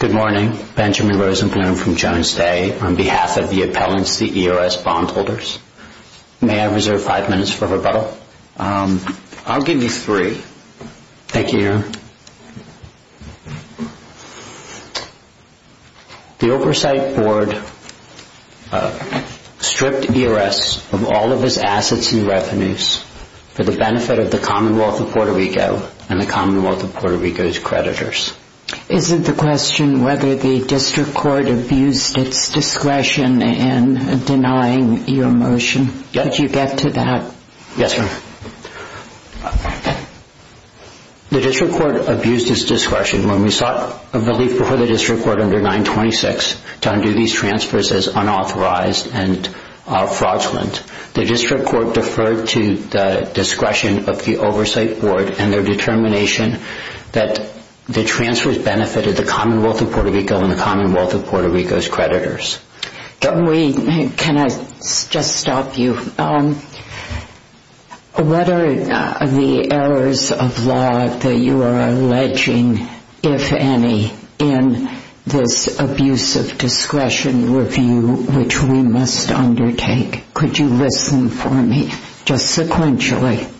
Good morning, Benjamin Rosenblum from Jones Day on behalf of the appellants to the E.R.S. bondholders. May I reserve five minutes for rebuttal? I'll give you three. Thank you, Aaron. The Oversight Board stripped E.R.S. of all of its assets and revenues for the benefit of the Commonwealth of Puerto Rico and the Commonwealth of Puerto Rico's creditors. Is it the question whether the district court abused its discretion in denying your motion? Could you get to that? Yes, ma'am. The district court abused its discretion when we sought a relief before the district court under 926 to undo these transfers as unauthorized and fraudulent. The district court deferred to the discretion of the Oversight Board and their determination that the transfers benefited the Commonwealth of Puerto Rico and the Commonwealth of Puerto Rico's creditors. Can I just stop you? What are the errors of law that you are alleging, if any, in this abuse of discretion review which we must undertake? Could you listen for me just sequentially?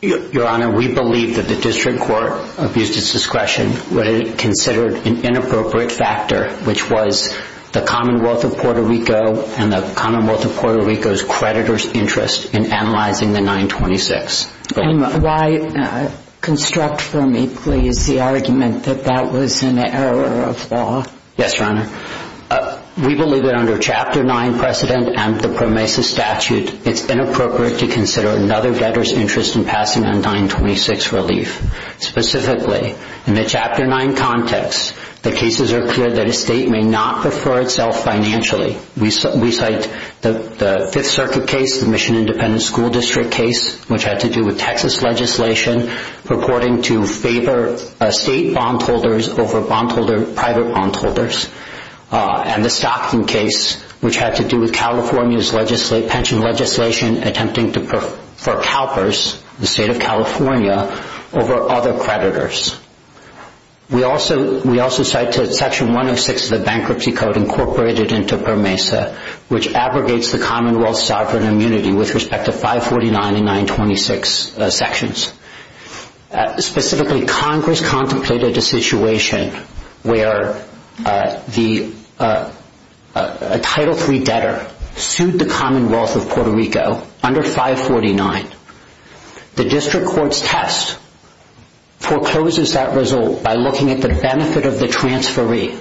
Your Honor, we believe that the district court abused its discretion when it considered an inappropriate factor, which was the Commonwealth of Puerto Rico and the Commonwealth of Puerto Rico's creditors' interest in analyzing the 926. Why construct for me, please, the argument that that was an error of law? Yes, Your Honor. We believe that under Chapter 9 precedent and the PROMESA statute, it's inappropriate to consider another debtor's interest in passing on 926 relief. Specifically, in the Chapter 9 context, the cases are clear that a state may not prefer itself financially. We cite the Fifth Circuit case, the Mission Independent School District case, which had to do with Texas legislation purporting to favor state bondholders over private bondholders, and the Stockton case, which had to do with California's pension legislation attempting to prefer CalPERS, the state of California, over other creditors. We also cite Section 106 of the Bankruptcy Code incorporated into PROMESA, which abrogates the Commonwealth's sovereign immunity with respect to 549 and 926 sections. Specifically, Congress contemplated a situation where a Title III debtor sued the Commonwealth of Puerto Rico under 549. The district court's test forecloses that result by looking at the benefit of the transferee.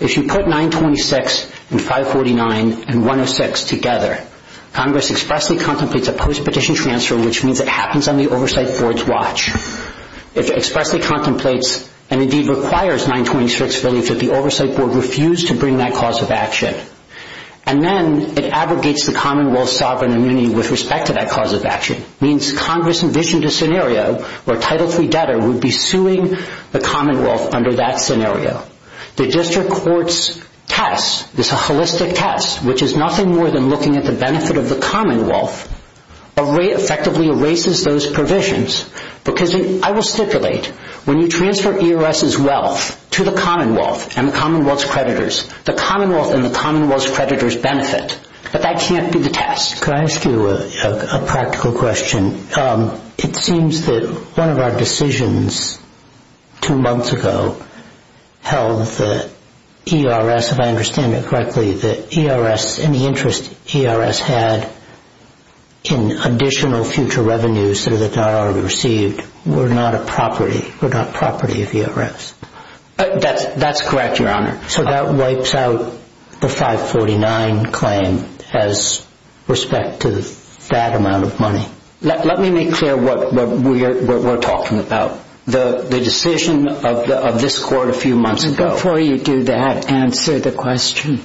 If you put 926 and 549 and 106 together, Congress expressly contemplates a post-petition transfer, which means it happens on the oversight board's It expressly contemplates and indeed requires 926 relief that the oversight board refused to bring that cause of action. And then it abrogates the Commonwealth's sovereign immunity with respect to that cause of action. It means Congress envisioned a scenario where a Title III debtor would be suing the Commonwealth under that scenario. The district court's test, this holistic test, which is nothing more than looking at the benefit of the Commonwealth, effectively erases those provisions. Because I will stipulate, when you transfer ERS's wealth to the Commonwealth and the Commonwealth's creditors, the Commonwealth and the Commonwealth's creditors benefit. But that can't be the test. Can I ask you a practical question? It seems that one of our decisions two months ago held that ERS, if I understand it correctly, that ERS and the interest ERS had in additional future revenues that are not already received were not a property, were not property of ERS. That's correct, Your Honor. So that wipes out the 549 claim as respect to that amount of money. Let me make clear what we're talking about. The decision of this court a few months ago Before you do that, answer the question.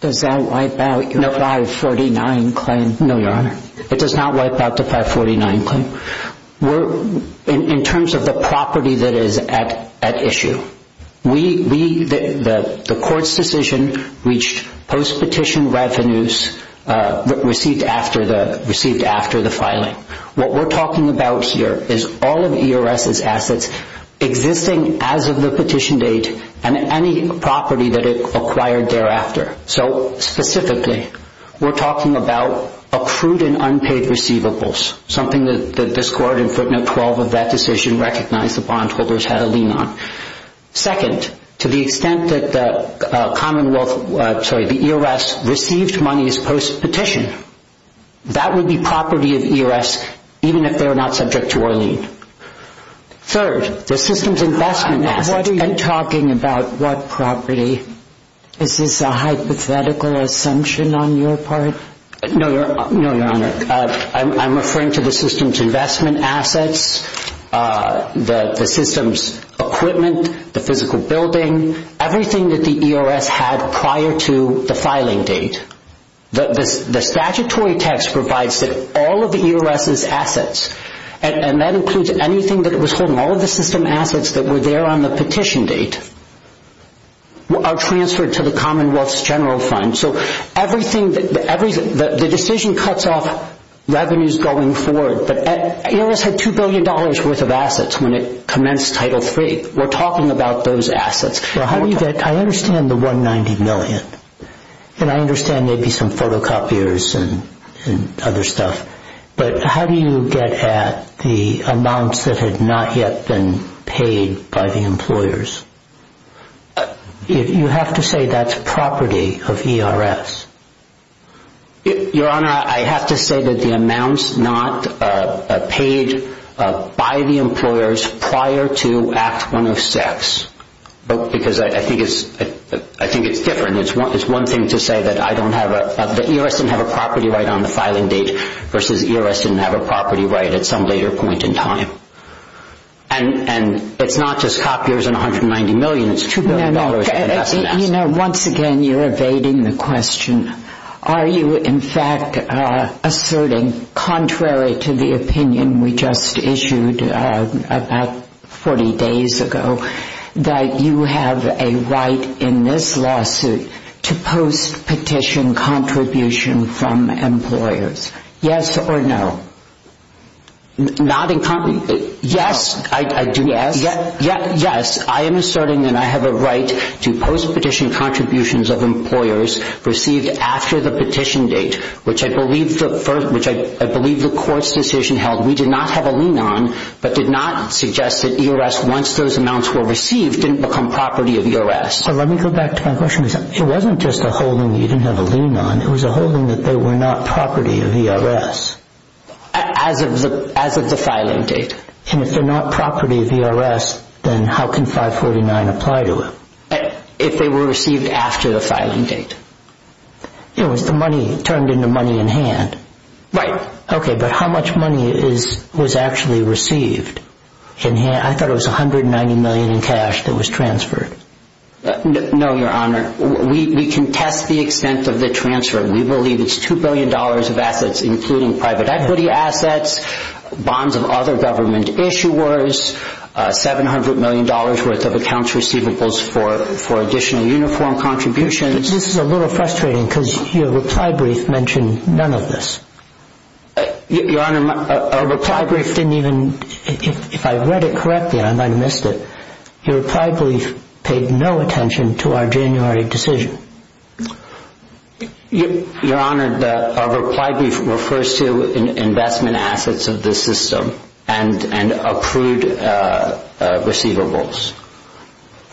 Does that wipe out your 549 claim? No, Your Honor. It does not wipe out the 549 claim. In terms of the property that is at issue, the court's decision reached post-petition revenues received after the filing. What we're that it acquired thereafter. So specifically, we're talking about accrued and unpaid receivables, something that this court in footnote 12 of that decision recognized the bondholders had a lien on. Second, to the extent that the Commonwealth, sorry, the ERS received money as post-petition, that would be property of ERS even if they were not subject to our lien. Third, the system's investment assets. I'm talking about what property? Is this a hypothetical assumption on your part? No, Your Honor. I'm referring to the system's investment assets, the system's equipment, the physical building, everything that the ERS had prior to the filing date. The statutory text provides that all of the ERS's assets, and that includes anything that it was holding, all of the system assets that were there on the petition date, are transferred to the Commonwealth's general fund. So everything, the decision cuts off revenues going forward. ERS had $2 billion worth of assets when it commenced Title III. We're talking about those assets. I understand the $190 million, and I understand maybe some photocopiers and other stuff, but how do you get at the amounts that had not yet been paid by the employers? You have to say that's property of ERS. Your Honor, I have to say that the amounts not paid by the employers prior to Act 106, because I think it's different. It's one thing to say that the ERS didn't have a property right on the filing date versus ERS didn't have a property right at some later point in time. And it's not just copiers and $190 million, it's $2 billion in investment assets. Once again, you're evading the question. Are you, in fact, asserting contrary to the opinion we just issued about 40 days ago, that you have a right in this lawsuit to post-petition contribution from employers? Yes or no? Yes, I do. Yes? Yes. I am asserting that I have a right to post-petition contributions of employers received after the petition date, which I believe the court's decision held we did not have a lien on, but did not suggest that ERS, once those amounts were received, didn't become property of ERS. Let me go back to my question. It wasn't just a holding you didn't have a lien on. It was a holding that they were not property of ERS. As of the filing date. And if they're not property of ERS, then how can 549 apply to it? If they were received after the filing date. It was the money turned into money in hand. Right. Okay, but how much money was actually received in hand? I thought it was $190 million in cash that was transferred. No, Your Honor. We contest the extent of the transfer. We believe it's $2 billion of assets including private equity assets, bonds of other government issuers, $700 million worth of accounts receivables for additional uniform contributions. This is a little frustrating because your reply brief mentioned none of this. Your Honor, our reply brief didn't even, if I read it correctly, I might have missed it. Your reply brief paid no attention to our January decision. Your Honor, our reply brief refers to investment assets of this system and accrued receivables.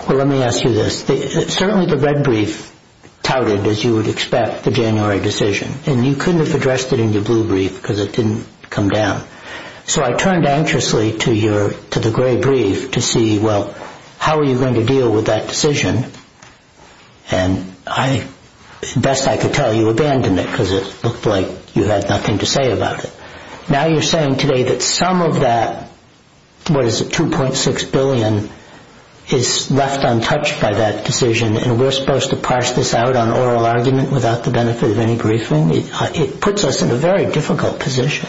Well, let me ask you this. Certainly the red brief touted, as you would expect, the January decision. And you couldn't have addressed it in your blue brief because it didn't come down. So I turned anxiously to the gray brief to see, well, how are you going to deal with that decision? And best I could tell you, abandon it because it looked like you had nothing to say about it. Now you're saying today that some of that, what is it, $2.6 billion is left untouched by that decision and we're supposed to parse this out on oral argument without the benefit of any briefing? It puts us in a very difficult position.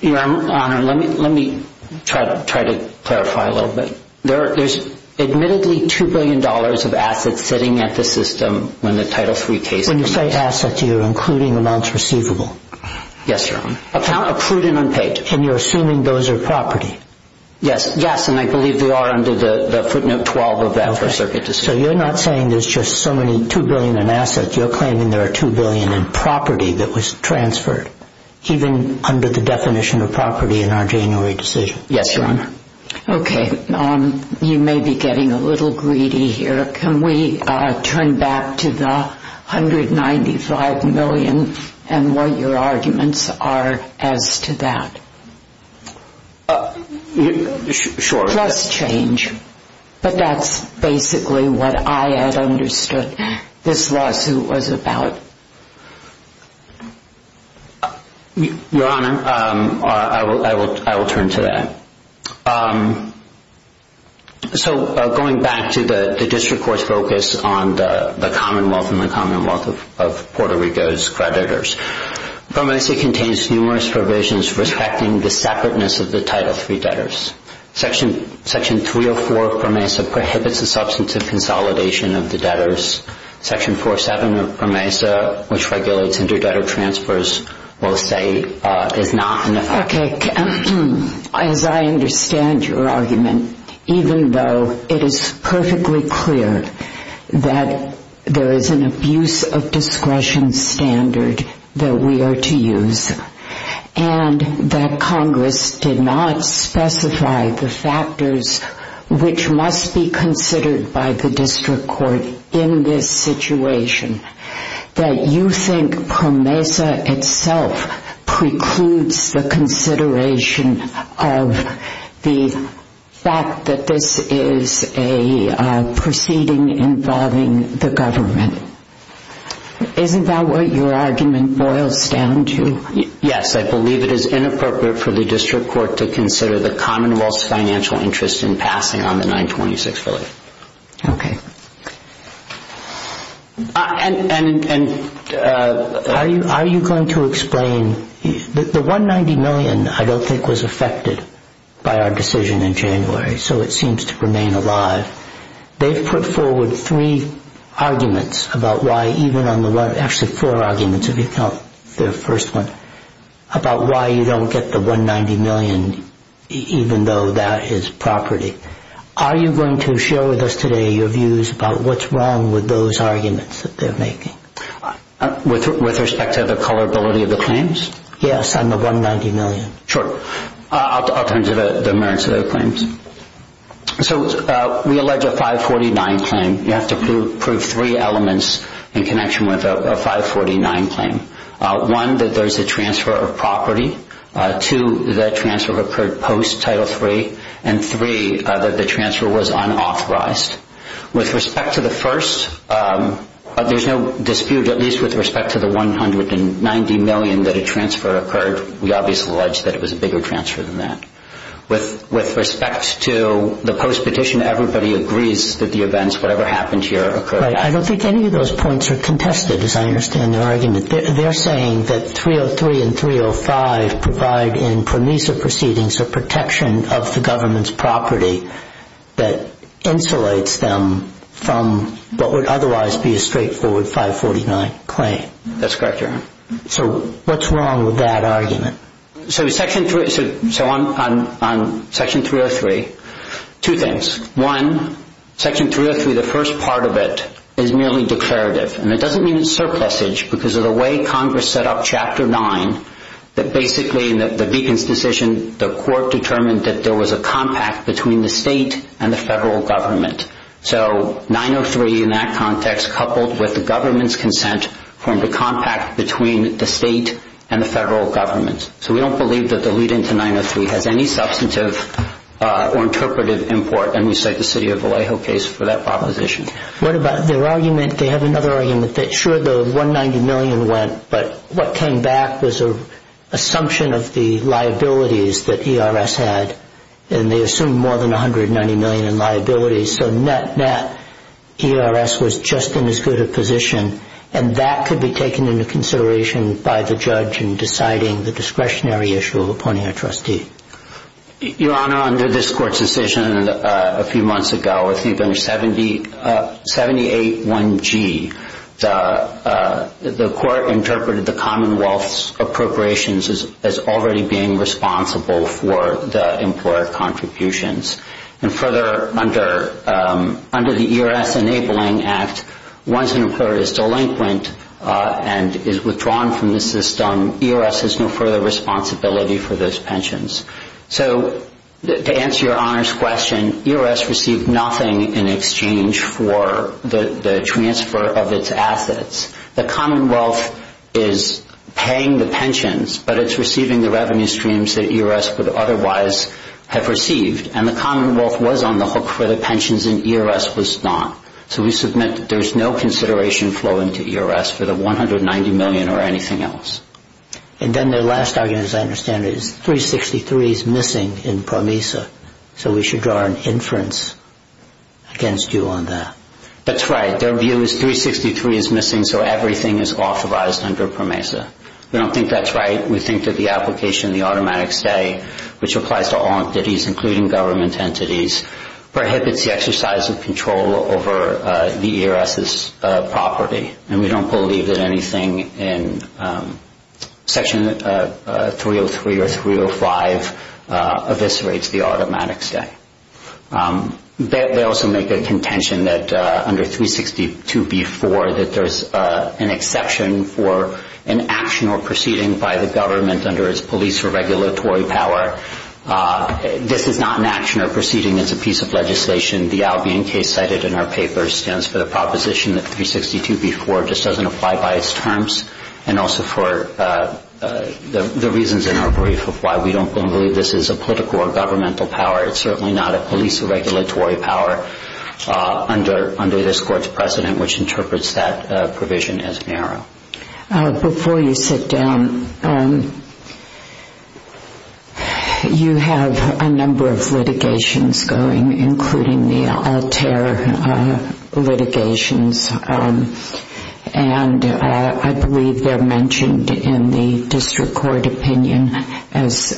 Your Honor, let me try to clarify a little bit. There's admittedly $2 billion of assets sitting at the system when the Title III case was made. When you say assets, you're including amounts receivable. Yes, Your Honor. Accrued and unpaid. And you're assuming those are property. Yes, and I believe they are under the footnote 12 of that First Circuit decision. So you're not saying there's just so many $2 billion in assets. You're claiming there are $2 billion in property that was transferred, even under the definition of property in our January decision. Yes, Your Honor. Okay. You may be getting a little greedy here. Can we turn back to the $195 million and what your arguments are as to that? Sure. Trust change. But that's basically what I had understood this lawsuit was about. Your Honor, I will turn to that. So going back to the district court's focus on the commonwealth and the commonwealth of Puerto Rico's creditors, PROMESA contains numerous provisions respecting the separateness of the Title III debtors. Section 304 of PROMESA prohibits the substantive consolidation of the debtors. Section 407 of PROMESA, which regulates inter-debtor transfers, will say it's not. Okay. As I understand your argument, even though it is perfectly clear that there is an abuse of discretion standard that we are to use and that Congress did not specify the factors which must be considered by the district court in this situation, that you think PROMESA itself precludes the consideration of the fact that this is a proceeding involving the government. Isn't that what your argument boils down to? Yes. I believe it is inappropriate for the district court to consider the commonwealth's financial interest in passing on the 926 bill. Okay. And are you going to explain... The 190 million I don't think was affected by our decision in January, so it seems to remain alive. They've put forward three arguments about why even on the... Actually, four arguments if you count the first one, about why you don't get the 190 million even though that is property. Are you going to share with us today your views about what's wrong with those arguments that they're making? With respect to the colorability of the claims? Yes, on the 190 million. Sure. I'll turn to the merits of those claims. So we allege a 549 claim. You have to prove three elements in connection with a 549 claim. One, that there is a transfer of property. Two, that transfer occurred post Title III. And three, that the transfer was unauthorized. With respect to the first, there's no dispute at least with respect to the 190 million that a transfer occurred. We obviously allege that it was a bigger transfer than that. With respect to the post petition, everybody agrees that the events, whatever happened here, occurred. I don't think any of those points are contested as I understand their argument. They're saying that 303 and 305 provide in permissive proceedings a protection of the government's property that insulates them from what would otherwise be a straightforward 549 claim. That's correct, Your Honor. So what's wrong with that argument? So on Section 303, two things. One, Section 303, the first part of it, is merely declarative. And it doesn't mean it's surplusage. Because of the way Congress set up Chapter 9, that basically in the Beacon's decision, the court determined that there was a compact between the state and the federal government. So 903 in that context, coupled with the government's consent, formed a compact between the state and the federal government. So we don't believe that the lead-in to 903 has any substantive or interpretive import. And we cite the city of Vallejo case for that proposition. What about their argument? They have another argument. Sure, the $190 million went. But what came back was an assumption of the liabilities that ERS had. And they assumed more than $190 million in liabilities. So net-net, ERS was just in as good a position. And that could be taken into consideration by the judge in deciding the discretionary issue of appointing a trustee. Your Honor, under this court's decision a few months ago, with even 78-1G, the court interpreted the Commonwealth's appropriations as already being responsible for the employer contributions. And further, under the ERS Enabling Act, once an employer is delinquent and is withdrawn from the system, ERS has no further responsibility for those pensions. So to answer Your Honor's question, ERS received nothing in exchange for the transfer of its assets. The Commonwealth is paying the pensions, but it's receiving the revenue streams that ERS would otherwise have received. And the Commonwealth was on the hook for the pensions, and ERS was not. So we submit that there's no consideration flowing to ERS for the $190 million or anything else. And then their last argument, as I understand it, is 363 is missing in PROMESA. So we should draw an inference against you on that. That's right. Their view is 363 is missing, so everything is authorized under PROMESA. We don't think that's right. We think that the application of the automatic stay, which applies to all entities, including government entities, prohibits the exercise of control over the ERS's property. And we don't believe that anything in Section 303 or 305 eviscerates the automatic stay. They also make a contention that under 362b-4 that there's an exception for an action or proceeding by the government under its police or regulatory power. This is not an action or proceeding. It's a piece of legislation. The Albion case cited in our paper stands for the proposition that 362b-4 just doesn't apply by its terms and also for the reasons in our brief of why we don't believe this is a political or governmental power. It's certainly not a police or regulatory power under this Court's precedent, which interprets that provision as narrow. Before you sit down, you have a number of litigations going, including the Altair litigations, and I believe they're mentioned in the District Court opinion as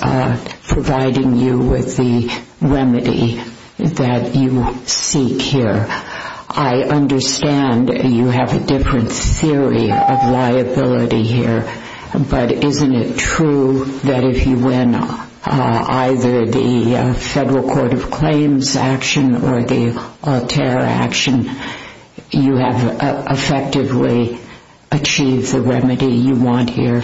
providing you with the remedy that you seek here. I understand you have a different theory of liability here, but isn't it true that if you win either the Federal Court of Claims action or the Altair action, you have effectively achieved the remedy you want here?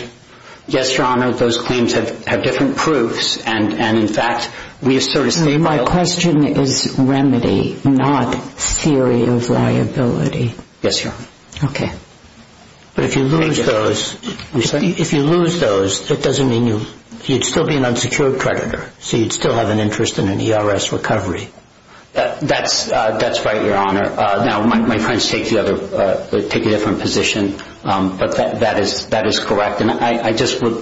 Yes, Your Honor, those claims have different proofs, and in fact, we have sort of stated... My question is remedy, not theory of liability. Yes, Your Honor. Okay. But if you lose those, that doesn't mean you'd still be an unsecured creditor, so you'd still have an interest in an ERS recovery. That's right, Your Honor. Now, my friends take a different position, but that is correct, and I just would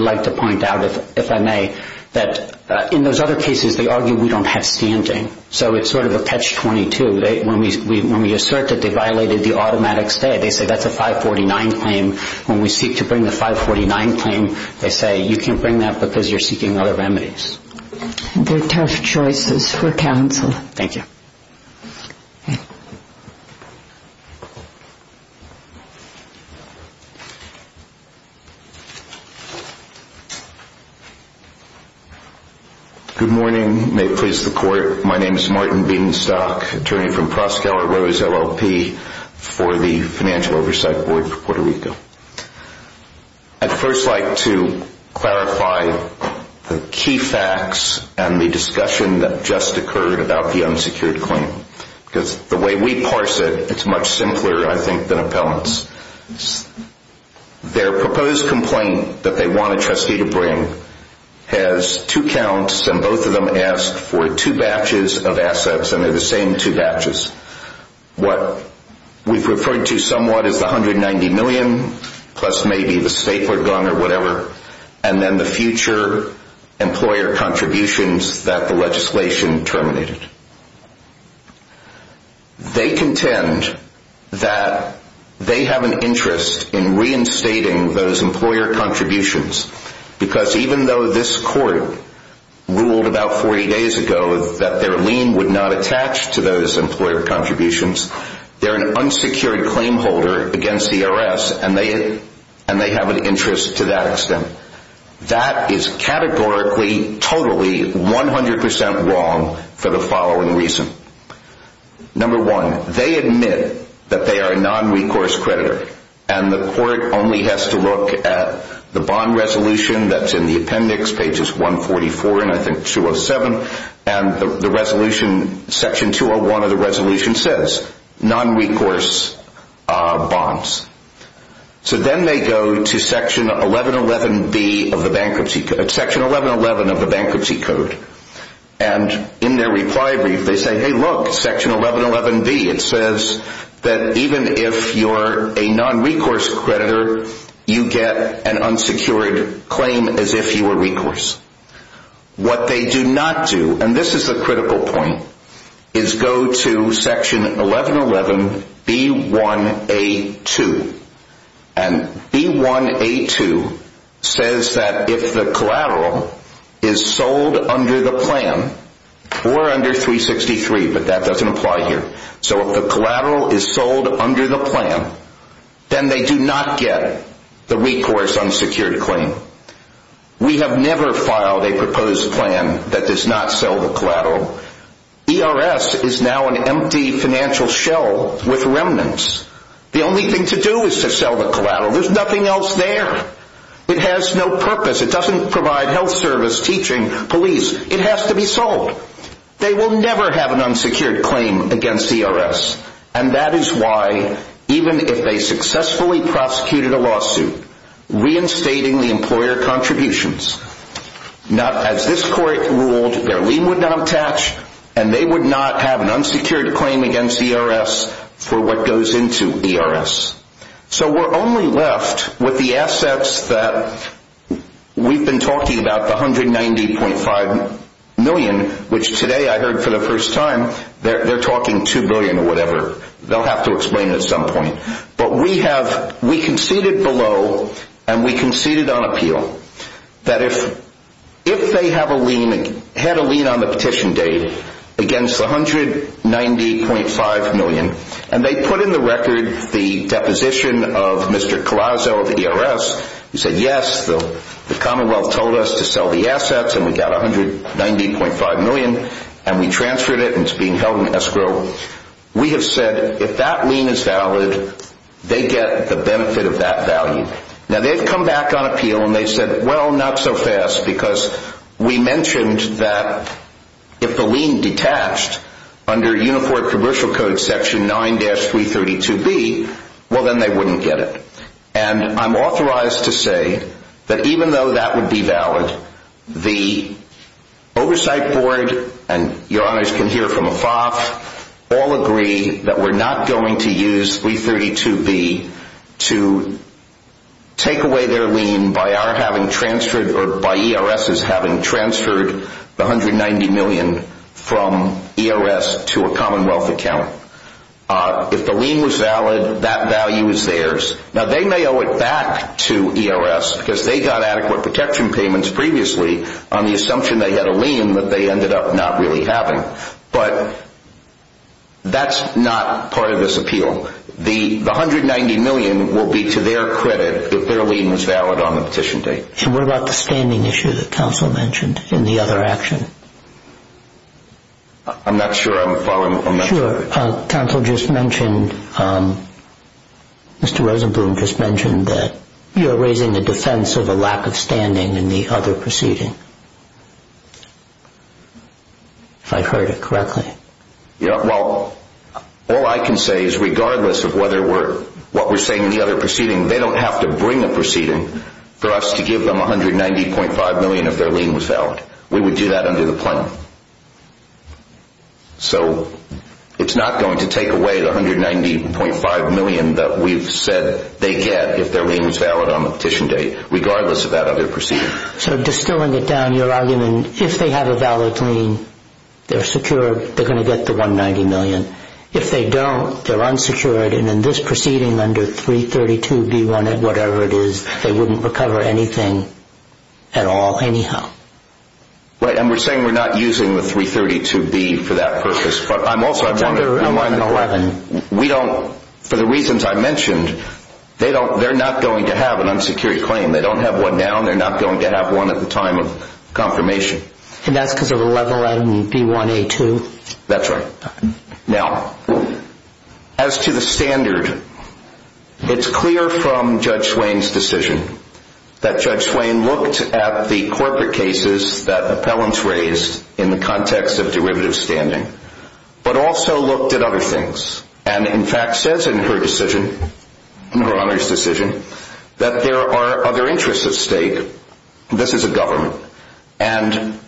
like to point out, if I may, that in those other cases, they argue we don't have standing, so it's sort of a catch-22. When we assert that they violated the automatic stay, they say that's a 549 claim. When we seek to bring the 549 claim, they say you can't bring that because you're seeking other remedies. They're tough choices for counsel. Thank you. Thank you. Good morning. May it please the Court, my name is Martin Beanstock, attorney from Proskauer Rose LLP for the Financial Oversight Board for Puerto Rico. I'd first like to clarify the key facts and the discussion that just occurred about the unsecured claim, because the way we parse it, it's much simpler, I think, than appellants. Their proposed complaint that they want a trustee to bring has two counts, and both of them asked for two batches of assets, and they're the same two batches. What we've referred to somewhat as the $190 million, plus maybe the stapler gun or whatever, and then the future employer contributions that the legislation terminated. They contend that they have an interest in reinstating those employer contributions, because even though this Court ruled about 40 days ago that their lien would not attach to those employer contributions, they're an unsecured claim holder against the IRS, and they have an interest to that extent. That is categorically, totally, 100% wrong for the following reason. Number one, they admit that they are a non-recourse creditor, and the Court only has to look at the bond resolution that's in the appendix, pages 144 and I think 207, and section 201 of the resolution says non-recourse bonds. Then they go to section 1111B of the Bankruptcy Code, and in their reply brief they say, hey look, section 1111B, it says that even if you're a non-recourse creditor, you get an unsecured claim as if you were recourse. What they do not do, and this is the critical point, is go to section 1111B1A2, and B1A2 says that if the collateral is sold under the plan, or under 363, but that doesn't apply here, so if the collateral is sold under the plan, then they do not get the recourse unsecured claim. We have never filed a proposed plan that does not sell the collateral. ERS is now an empty financial shell with remnants. The only thing to do is to sell the collateral, there's nothing else there. It has no purpose, it doesn't provide health service, teaching, police, it has to be sold. They will never have an unsecured claim against ERS, and that is why, even if they successfully prosecuted a lawsuit, reinstating the employer contributions, as this court ruled, their lien would not attach, and they would not have an unsecured claim against ERS for what goes into ERS. So we're only left with the assets that we've been talking about, the $190.5 million, which today I heard for the first time, they're talking $2 billion or whatever, they'll have to explain it at some point. But we conceded below, and we conceded on appeal, that if they had a lien on the petition date against the $190.5 million, and they put in the record the deposition of Mr. Collazo of ERS, who said, yes, the Commonwealth told us to sell the assets, and we got $190.5 million, and we transferred it, and it's being held in escrow, we have said, if that lien is valid, they get the benefit of that value. Now, they've come back on appeal, and they've said, well, not so fast, because we mentioned that if the lien detached under Unifor commercial code section 9-332B, well, then they wouldn't get it. And I'm authorized to say that even though that would be valid, the oversight board, and your honors can hear from Afaf, all agree that we're not going to use 332B to take away their lien by our having transferred or by ERS's having transferred the $190 million from ERS to a Commonwealth account. If the lien was valid, that value is theirs. Now, they may owe it back to ERS, because they got adequate protection payments previously on the assumption they had a lien that they ended up not really having, but that's not part of this appeal. The $190 million will be to their credit if their lien was valid on the petition date. And what about the standing issue that counsel mentioned in the other action? I'm not sure I'm following on that. Sure. Counsel just mentioned, Mr. Rosenblum just mentioned that you're raising the defense of a lack of standing in the other proceeding, if I heard it correctly. Yeah, well, all I can say is regardless of what we're saying in the other proceeding, they don't have to bring a proceeding for us to give them $190.5 million if their lien was valid. We would do that under the plan. So, it's not going to take away the $190.5 million that we've said they get if their lien was valid on the petition date, regardless of that other proceeding. So, distilling it down, your argument, if they have a valid lien, they're secure, they're going to get the $190 million. If they don't, they're unsecured, and in this proceeding under 332B1, whatever it is, they wouldn't recover anything at all, anyhow. Right, and we're saying we're not using the 332B for that purpose, but I'm also... It's under 111. We don't, for the reasons I mentioned, they're not going to have an unsecured claim. They don't have one now, and they're not going to have one at the time of confirmation. And that's because of 111B1A2. That's right. Now, as to the standard, it's clear from Judge Swain's decision that Judge Swain looked at the corporate cases that appellants raised in the context of derivative standing, but also looked at other things, and, in fact, says in her decision, in her Honor's decision, that there are other interests at stake. This is a government, and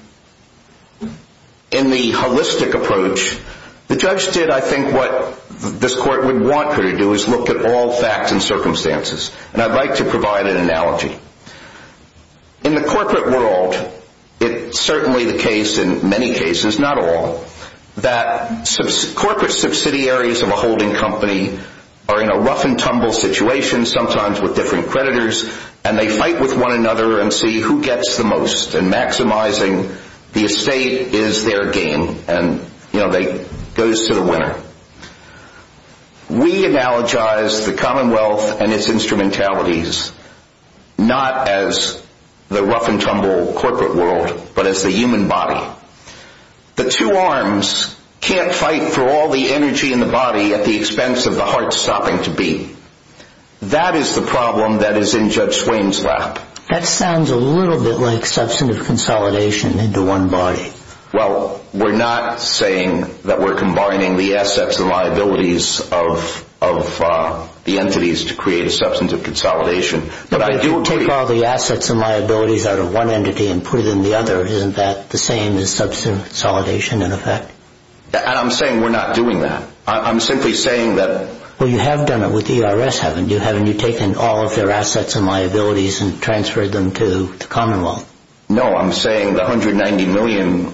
in the holistic approach, the judge did, I think, what this Court would want her to do, is look at all facts and circumstances. And I'd like to provide an analogy. In the corporate world, it's certainly the case in many cases, not all, that corporate subsidiaries of a holding company are in a rough-and-tumble situation, sometimes with different creditors, and they fight with one another and see who gets the most, and maximizing the estate is their game, and, you know, it goes to the winner. We analogize the Commonwealth and its instrumentalities not as the rough-and-tumble corporate world, but as the human body. The two arms can't fight for all the energy in the body at the expense of the heart stopping to beat. That is the problem that is in Judge Swain's lap. That sounds a little bit like substantive consolidation into one body. Well, we're not saying that we're combining the assets and liabilities of the entities to create a substantive consolidation. But if you take all the assets and liabilities out of one entity and put it in the other, isn't that the same as substantive consolidation, in effect? And I'm saying we're not doing that. I'm simply saying that... Well, you have done it with ERS, haven't you? Haven't you taken all of their assets and liabilities and transferred them to the Commonwealth? No, I'm saying the $190 million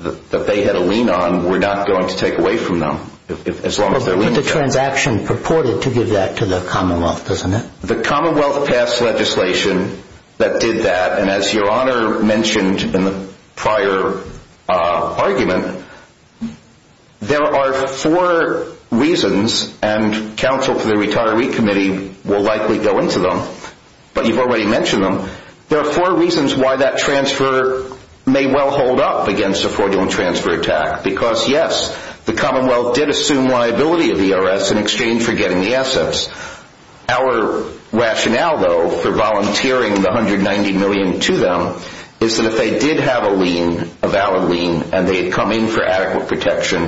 that they had to lean on we're not going to take away from them, as long as they're leaning on it. But the transaction purported to give that to the Commonwealth, doesn't it? The Commonwealth passed legislation that did that, and as Your Honor mentioned in the prior argument, there are four reasons, and counsel for the Retiree Committee will likely go into them, but you've already mentioned them. There are four reasons why that transfer may well hold up against a fraudulent transfer attack. Because, yes, the Commonwealth did assume liability of ERS in exchange for getting the assets. Our rationale, though, for volunteering the $190 million to them is that if they did have a lean, a valid lean, and they had come in for adequate protection,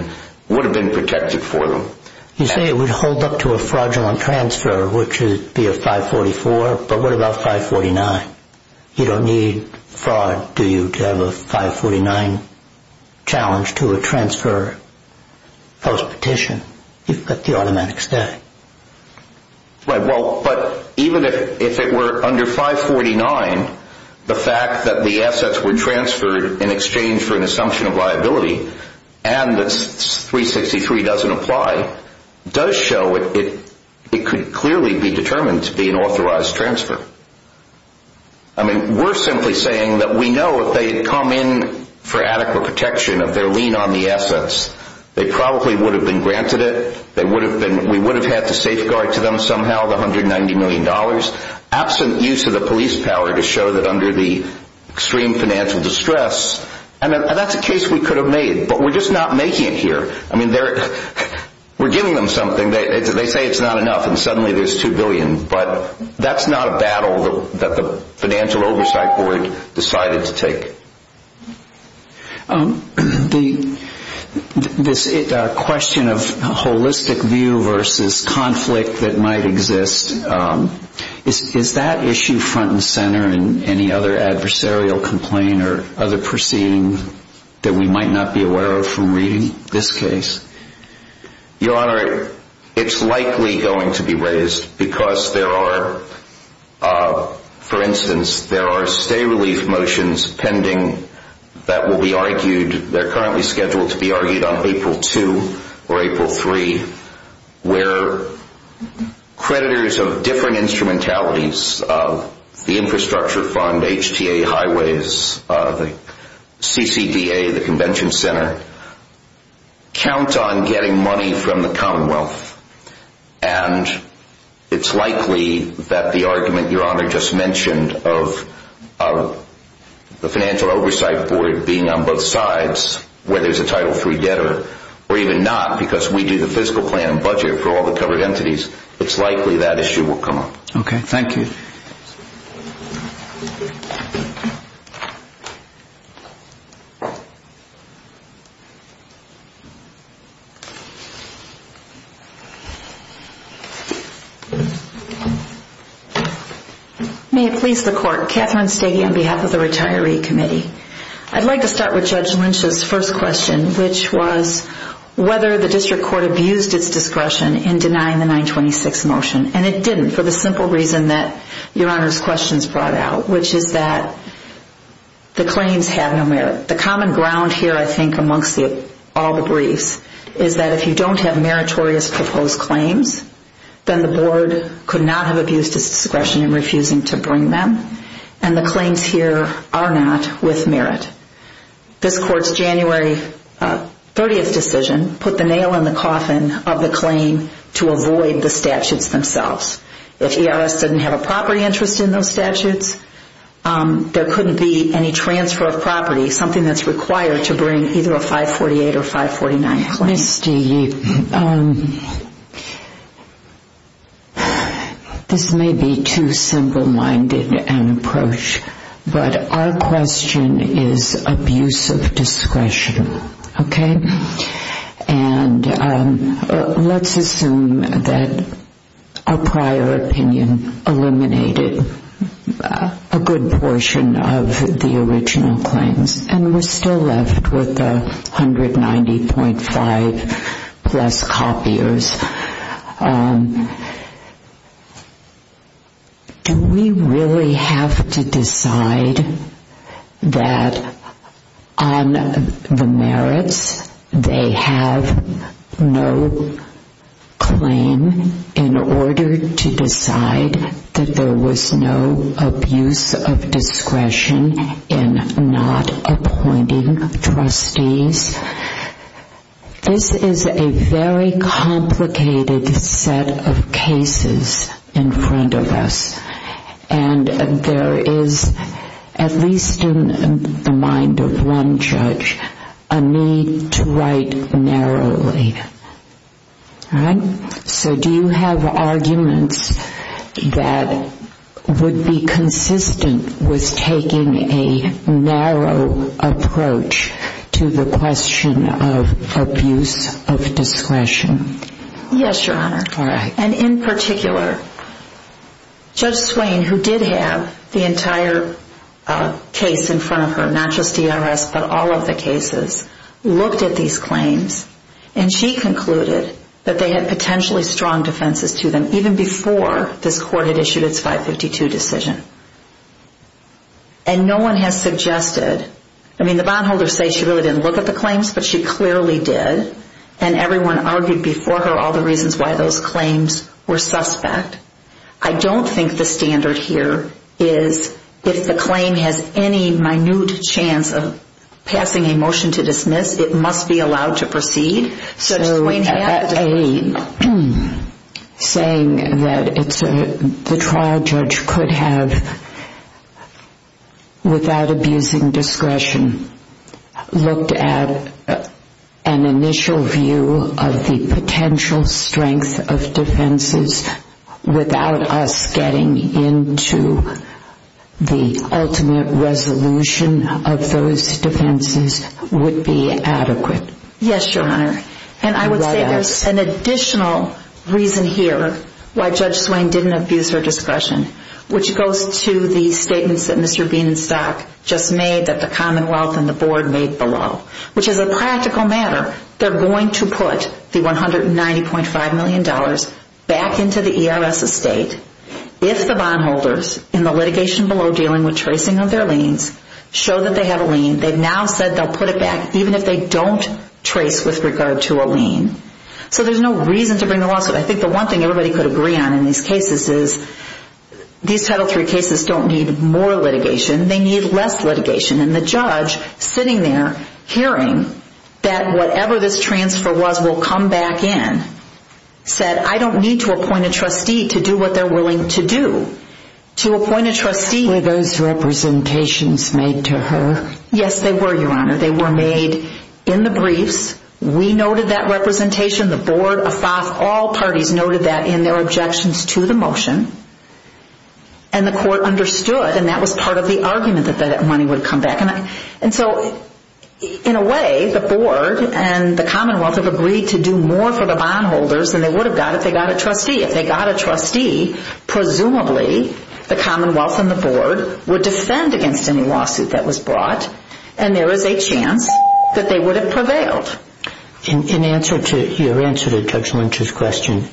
it would have been protected for them. You say it would hold up to a fraudulent transfer, which would be a 544, but what about 549? You don't need fraud, do you, to have a 549 challenge to a transfer post-petition. You've got the automatic static. Right, well, but even if it were under 549, the fact that the assets were transferred in exchange for an assumption of liability and that 363 doesn't apply does show it could clearly be determined to be an authorized transfer. I mean, we're simply saying that we know if they had come in for adequate protection of their lean on the assets, they probably would have been granted it. We would have had to safeguard to them somehow the $190 million. Absent use of the police power to show that under the extreme financial distress, and that's a case we could have made, but we're just not making it here. I mean, we're giving them something. They say it's not enough, and suddenly there's $2 billion, but that's not a battle that the Financial Oversight Board decided to take. This question of holistic view versus conflict that might exist, is that issue front and center in any other adversarial complaint or other proceeding that we might not be aware of from reading this case? Your Honor, it's likely going to be raised because there are, for instance, there are stay-relief motions pending that will be argued. They're currently scheduled to be argued on April 2 or April 3 where creditors of different instrumentalities, the Infrastructure Fund, HTA Highways, the CCDA, the Convention Center, count on getting money from the Commonwealth, and it's likely that the argument Your Honor just mentioned of the Financial Oversight Board being on both sides, whether it's a Title III debtor or even not, because we do the fiscal plan and budget for all the covered entities, it's likely that issue will come up. Okay, thank you. May it please the Court. Katherine Stege on behalf of the Retiree Committee. I'd like to start with Judge Lynch's first question, which was whether the District Court abused its discretion in denying the 926 motion, and it didn't for the simple reason that Your Honor's questions brought out, which is that the claims have no merit. The common ground here I think amongst all the briefs is that if you don't have meritorious proposed claims, then the Board could not have abused its discretion in refusing to bring them, and the claims here are not with merit. This Court's January 30 decision put the nail in the coffin of the claim to avoid the statutes themselves. If ERS didn't have a property interest in those statutes, there couldn't be any transfer of property, something that's required to bring either a 548 or 549 claim. Ms. Stege, this may be too simple-minded an approach, but our question is abuse of discretion, okay? And let's assume that our prior opinion eliminated a good portion of the original claims, and we're still left with the 190.5-plus copiers. Do we really have to decide that on the merits they have no claim in order to decide that there was no abuse of discretion in not appointing trustees? This is a very complicated set of cases in front of us, and there is, at least in the mind of one judge, a need to write narrowly, all right? So do you have arguments that would be consistent with taking a narrow approach to the question of abuse of discretion? Yes, Your Honor. All right. And in particular, Judge Swain, who did have the entire case in front of her, not just ERS but all of the cases, looked at these claims, and she concluded that they had potentially strong defenses to them even before this Court had issued its 552 decision. And no one has suggested, I mean, the bondholders say she really didn't look at the claims, but she clearly did, and everyone argued before her all the reasons why those claims were suspect. I don't think the standard here is if the claim has any minute chance of passing a motion to dismiss, it must be allowed to proceed. So saying that the trial judge could have, without abusing discretion, looked at an initial view of the potential strength of defenses without us getting into the ultimate resolution of those defenses would be adequate? Yes, Your Honor. And I would say there's an additional reason here why Judge Swain didn't abuse her discretion, which goes to the statements that Mr. Bean and Stock just made that the Commonwealth and the Board made below, which is a practical matter. They're going to put the $190.5 million back into the ERS estate if the bondholders in the litigation below dealing with tracing of their liens show that they have a lien. They've now said they'll put it back even if they don't trace with regard to a lien. So there's no reason to bring the lawsuit. I think the one thing everybody could agree on in these cases is these Title III cases don't need more litigation. They need less litigation. And the judge sitting there hearing that whatever this transfer was will come back in said, I don't need to appoint a trustee to do what they're willing to do. To appoint a trustee... Were those representations made to her? Yes, they were, Your Honor. They were made in the briefs. We noted that representation. The Board, all parties noted that in their objections to the motion. And the court understood. And that was part of the argument that that money would come back. And so in a way, the Board and the Commonwealth have agreed to do more for the bondholders than they would have got if they got a trustee. If they got a trustee, presumably the Commonwealth and the Board would defend against any lawsuit that was brought. And there is a chance that they would have prevailed. In your answer to Judge Lynch's question,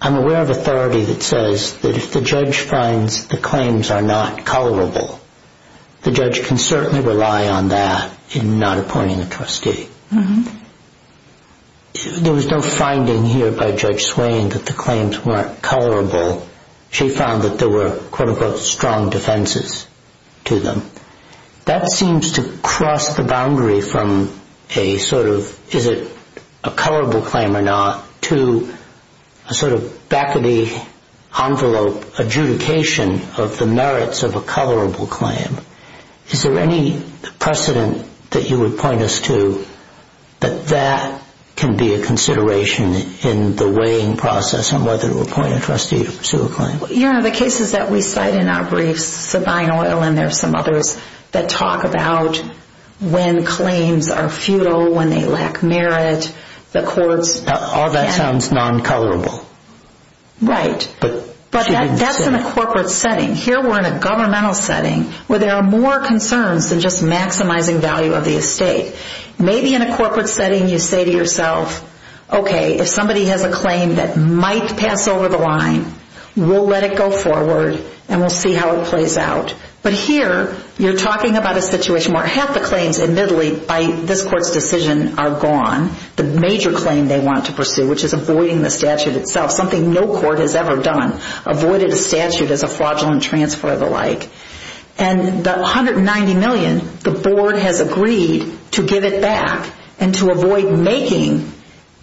I'm aware of authority that says that if the judge finds the claims are not colorable, the judge can certainly rely on that in not appointing a trustee. There was no finding here by Judge Swain that the claims weren't colorable. She found that there were, quote-unquote, strong defenses to them. That seems to cross the boundary from a sort of is it a colorable claim or not to a sort of back-of-the-envelope adjudication of the merits of a colorable claim. Is there any precedent that you would point us to that that can be a consideration in the weighing process on whether to appoint a trustee to pursue a claim? You know, the cases that we cite in our briefs, Sabine Oil and there are some others, that talk about when claims are futile, when they lack merit, the courts. All that sounds non-colorable. Right, but that's in a corporate setting. Here we're in a governmental setting where there are more concerns than just maximizing value of the estate. Maybe in a corporate setting you say to yourself, okay, if somebody has a claim that might pass over the line, we'll let it go forward and we'll see how it plays out. But here you're talking about a situation where half the claims admittedly by this court's decision are gone. The major claim they want to pursue, which is avoiding the statute itself, something no court has ever done, avoided a statute as a fraudulent transfer of the like. And the $190 million, the board has agreed to give it back and to avoid making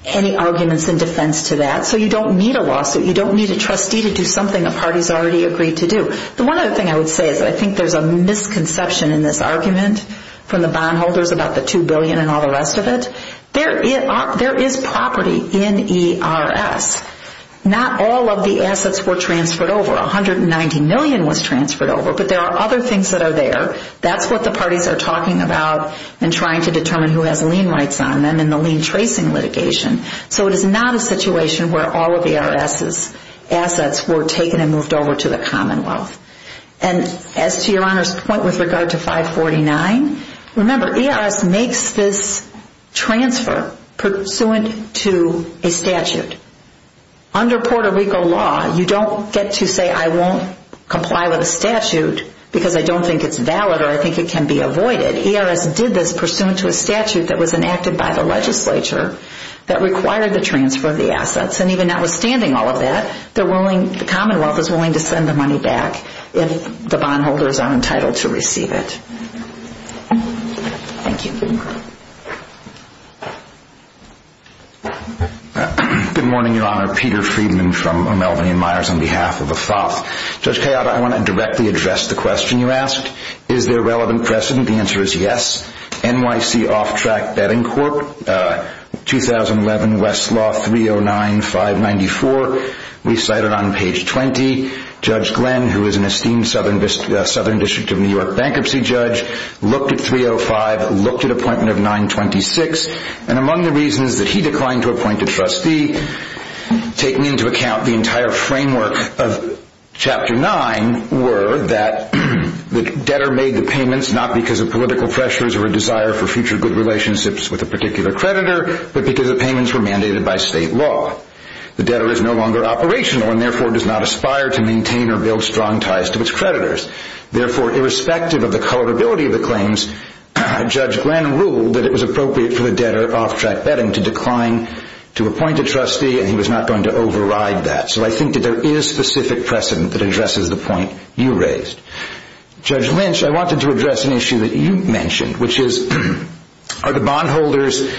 any arguments in defense to that. So you don't need a lawsuit. You don't need a trustee to do something a party has already agreed to do. The one other thing I would say is that I think there's a misconception in this argument from the bondholders about the $2 billion and all the rest of it. There is property in ERS. Not all of the assets were transferred over. $190 million was transferred over, but there are other things that are there. That's what the parties are talking about and trying to determine who has lien rights on them in the lien tracing litigation. So it is not a situation where all of ERS's assets were taken and moved over to the Commonwealth. And as to Your Honor's point with regard to 549, remember ERS makes this transfer pursuant to a statute. Under Puerto Rico law, you don't get to say I won't comply with a statute because I don't think it's valid or I think it can be avoided. ERS did this pursuant to a statute that was enacted by the legislature that required the transfer of the assets. And even notwithstanding all of that, the Commonwealth is willing to send the money back if the bondholders are entitled to receive it. Thank you. Good morning, Your Honor. Peter Friedman from Melvin and Myers on behalf of AFOP. Judge Kayada, I want to directly address the question you asked. Is there relevant precedent? The answer is yes. NYC Off-Track Betting Court, 2011 Westlaw 309594, we cite it on page 20. Judge Glenn, who is an esteemed Southern District of New York bankruptcy judge, looked at 305, looked at Appointment of 926, and among the reasons that he declined to appoint a trustee, taking into account the entire framework of Chapter 9, were that the debtor made the payments not because of political pressures or a desire for future good relationships with a particular creditor, but because the payments were mandated by state law. The debtor is no longer operational and therefore does not aspire to maintain or build strong ties to its creditors. Therefore, irrespective of the colorability of the claims, Judge Glenn ruled that it was appropriate for the debtor, off-track betting, to decline to appoint a trustee and he was not going to override that. So I think that there is specific precedent that addresses the point you raised. Judge Lynch, I wanted to address an issue that you mentioned, which is are the bondholders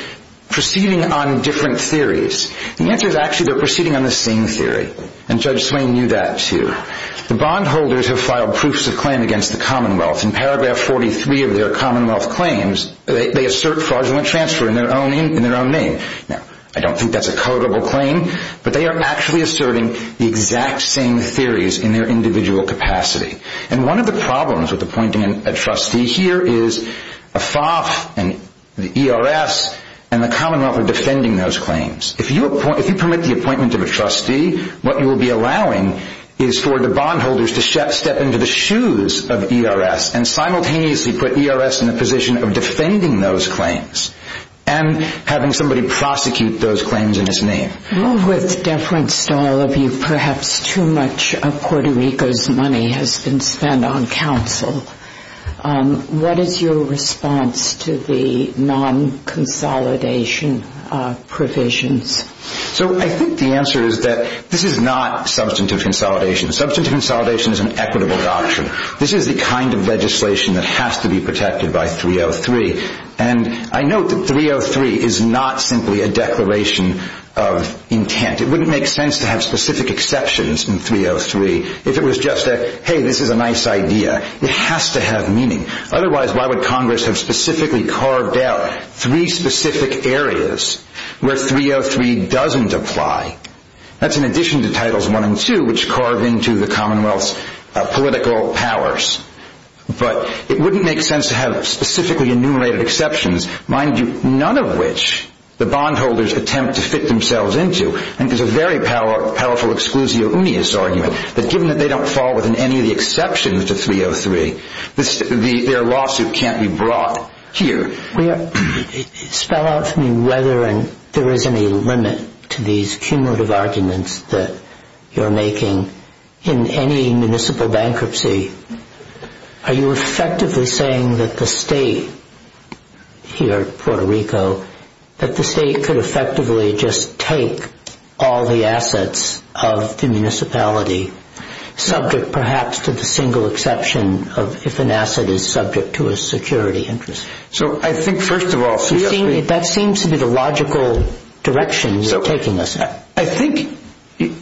proceeding on different theories? The answer is actually they're proceeding on the same theory, and Judge Swain knew that too. The bondholders have filed proofs of claim against the Commonwealth. In paragraph 43 of their Commonwealth claims, they assert fraudulent transfer in their own name. Now, I don't think that's a codable claim, but they are actually asserting the exact same theories in their individual capacity. And one of the problems with appointing a trustee here is AFAF and the ERS and the Commonwealth are defending those claims. If you permit the appointment of a trustee, what you will be allowing is for the bondholders to step into the shoes of ERS and simultaneously put ERS in a position of defending those claims and having somebody prosecute those claims in his name. With deference to all of you, perhaps too much of Puerto Rico's money has been spent on counsel. What is your response to the non-consolidation provisions? So I think the answer is that this is not substantive consolidation. Substantive consolidation is an equitable doctrine. This is the kind of legislation that has to be protected by 303. And I note that 303 is not simply a declaration of intent. It wouldn't make sense to have specific exceptions in 303 if it was just a, hey, this is a nice idea. It has to have meaning. Otherwise, why would Congress have specifically carved out three specific areas where 303 doesn't apply? That's in addition to Titles I and II, which carve into the Commonwealth's political powers. But it wouldn't make sense to have specifically enumerated exceptions, mind you, none of which the bondholders attempt to fit themselves into. And there's a very powerful exclusio unius argument that given that they don't fall within any of the exceptions to 303, their lawsuit can't be brought here. Spell out for me whether there is any limit to these cumulative arguments that you're making in any municipal bankruptcy. Are you effectively saying that the state here at Puerto Rico, that the state could effectively just take all the assets of the municipality, subject perhaps to the single exception of if an asset is subject to a security interest? I think, first of all, 303 That seems to be the logical direction you're taking us in. I think the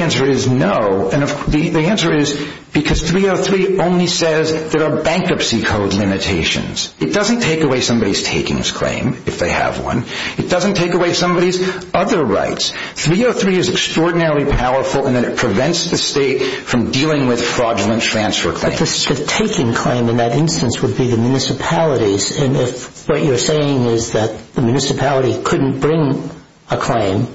answer is no. The answer is because 303 only says there are bankruptcy code limitations. It doesn't take away somebody's takings claim, if they have one. It doesn't take away somebody's other rights. 303 is extraordinarily powerful in that it prevents the state from dealing with fraudulent transfer claims. The taking claim in that instance would be the municipalities. And if what you're saying is that the municipality couldn't bring a claim...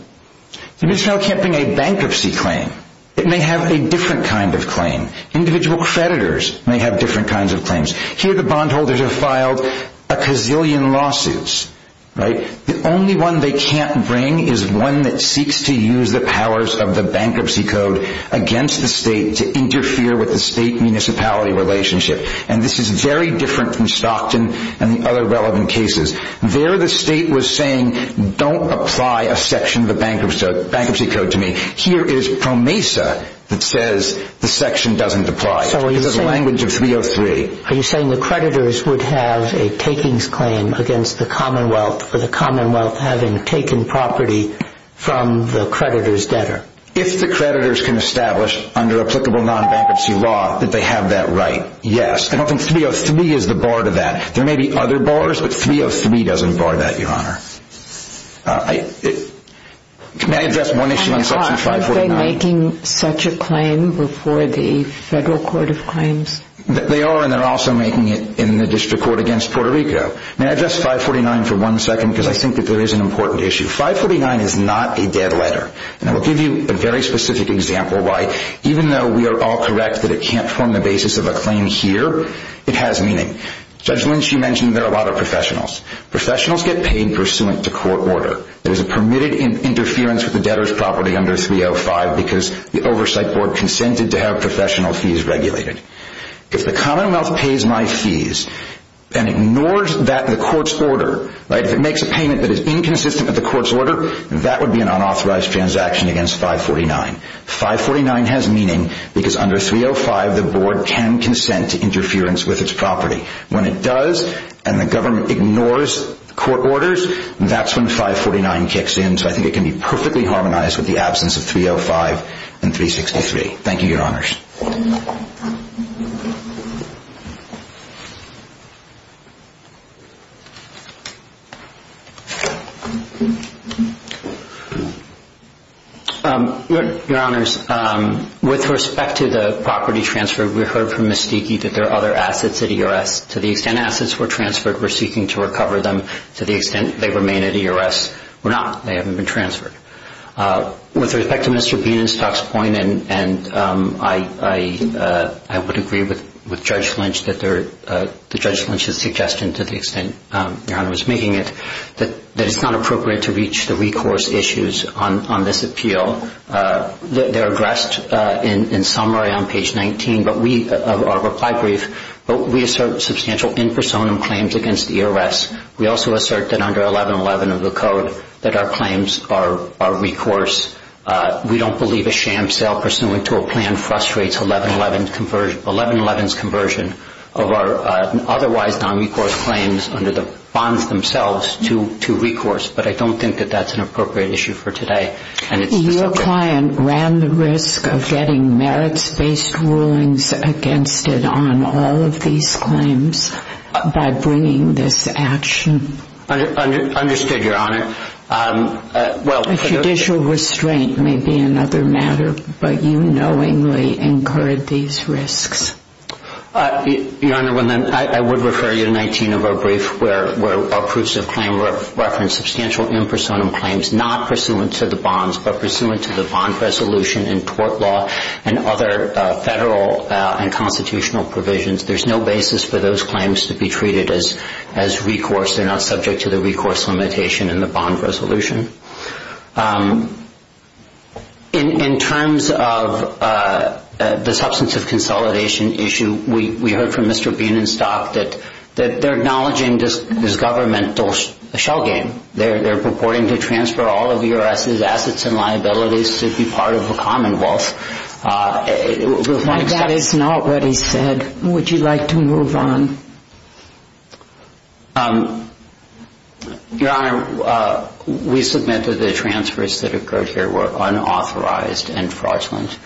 The municipality can't bring a bankruptcy claim. It may have a different kind of claim. Individual creditors may have different kinds of claims. Here the bondholders have filed a gazillion lawsuits. The only one they can't bring is one that seeks to use the powers of the bankruptcy code against the state to interfere with the state-municipality relationship. And this is very different from Stockton and the other relevant cases. There the state was saying, don't apply a section of the bankruptcy code to me. Here it is PROMESA that says the section doesn't apply. It's the language of 303. Are you saying the creditors would have a takings claim against the Commonwealth for the Commonwealth having taken property from the creditor's debtor? If the creditors can establish under applicable non-bankruptcy law that they have that right, yes. I don't think 303 is the bar to that. There may be other bars, but 303 doesn't bar that, Your Honor. May I address one issue in Section 549? Are they making such a claim before the Federal Court of Claims? They are, and they're also making it in the District Court against Puerto Rico. May I address 549 for one second, because I think that there is an important issue. Section 549 is not a debt letter, and I will give you a very specific example why, even though we are all correct that it can't form the basis of a claim here, it has meaning. Judge Lynch, you mentioned there are a lot of professionals. Professionals get paid pursuant to court order. There is a permitted interference with the debtor's property under 305 because the Oversight Board consented to have professional fees regulated. If the Commonwealth pays my fees and ignores that in the court's order, if it makes a payment that is inconsistent with the court's order, that would be an unauthorized transaction against 549. 549 has meaning because under 305 the Board can consent to interference with its property. When it does and the government ignores court orders, that's when 549 kicks in, so I think it can be perfectly harmonized with the absence of 305 and 363. Thank you, Your Honors. Your Honors, with respect to the property transfer, we heard from Ms. Stieke that there are other assets at ERS. To the extent assets were transferred, we're seeking to recover them. To the extent they remain at ERS, we're not. They haven't been transferred. With respect to Mr. Bienenstock's point, and I would agree with Judge Lynch that it's not appropriate to reach the recourse issues on this appeal. They're addressed in summary on page 19 of our reply brief, but we assert substantial in personam claims against ERS. We also assert that under 1111 of the code that our claims are recourse. We don't believe a sham sale pursuant to a plan frustrates 1111's conversion of our otherwise nonrecourse claims under the bonds themselves to recourse, but I don't think that that's an appropriate issue for today. Your client ran the risk of getting merits-based rulings against it on all of these claims by bringing this action. Understood, Your Honor. Judicial restraint may be another matter, but you knowingly incurred these risks. Your Honor, I would refer you to 19 of our briefs where our proofs of claim reference substantial in personam claims not pursuant to the bonds, but pursuant to the bond resolution and tort law and other federal and constitutional provisions. There's no basis for those claims to be treated as recourse. They're not subject to the recourse limitation in the bond resolution. In terms of the substance of consolidation issue, we heard from Mr. Bienenstock that they're acknowledging this governmental shell game. They're purporting to transfer all of ERS's assets and liabilities to be part of a commonwealth. That is not what he said. Would you like to move on? Your Honor, we submit that the transfers that occurred here were unauthorized and fraudulent.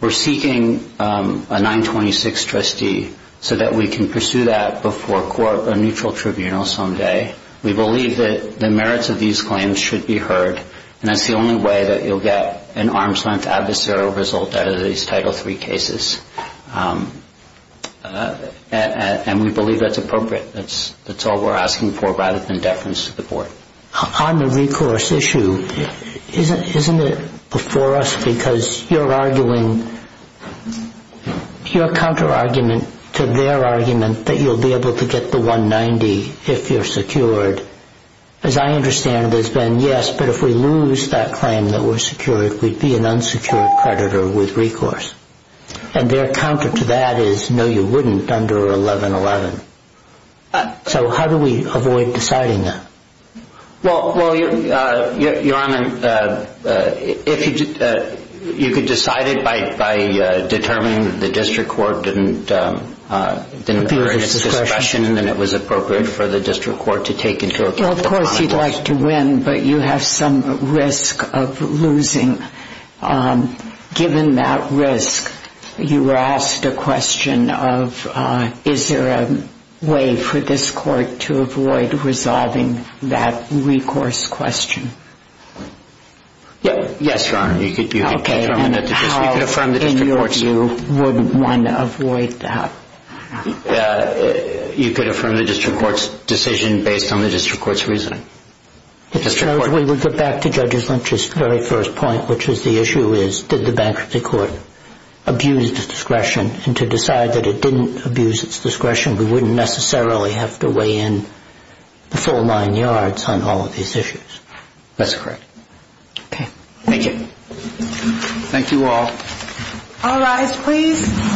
We're seeking a 926 trustee so that we can pursue that before a neutral tribunal someday. We believe that the merits of these claims should be heard, and that's the only way that you'll get an arm's-length adversarial result out of these Title III cases. And we believe that's appropriate. That's all we're asking for rather than deference to the board. On the recourse issue, isn't it before us because you're arguing your counterargument to their argument that you'll be able to get the 190 if you're secured? As I understand it, it's been yes, but if we lose that claim that we're secured, we'd be an unsecured creditor with recourse. And their counter to that is no, you wouldn't under 1111. So how do we avoid deciding that? Well, Your Honor, you could decide it by determining that the district court didn't bring its discretion and that it was appropriate for the district court to take into account the client's discretion. Well, of course you'd like to win, but you have some risk of losing. Given that risk, you were asked a question of is there a way for this court to avoid resolving that recourse question. Yes, Your Honor. You could affirm the district court's view. You wouldn't want to avoid that. You could affirm the district court's decision based on the district court's reasoning. Mr. Jones, we would go back to Judge Lynch's very first point, which is the issue is did the bankruptcy court abuse its discretion? And to decide that it didn't abuse its discretion, we wouldn't necessarily have to weigh in the full nine yards on all of these issues. That's correct. Okay. Thank you. Thank you all. All rise, please.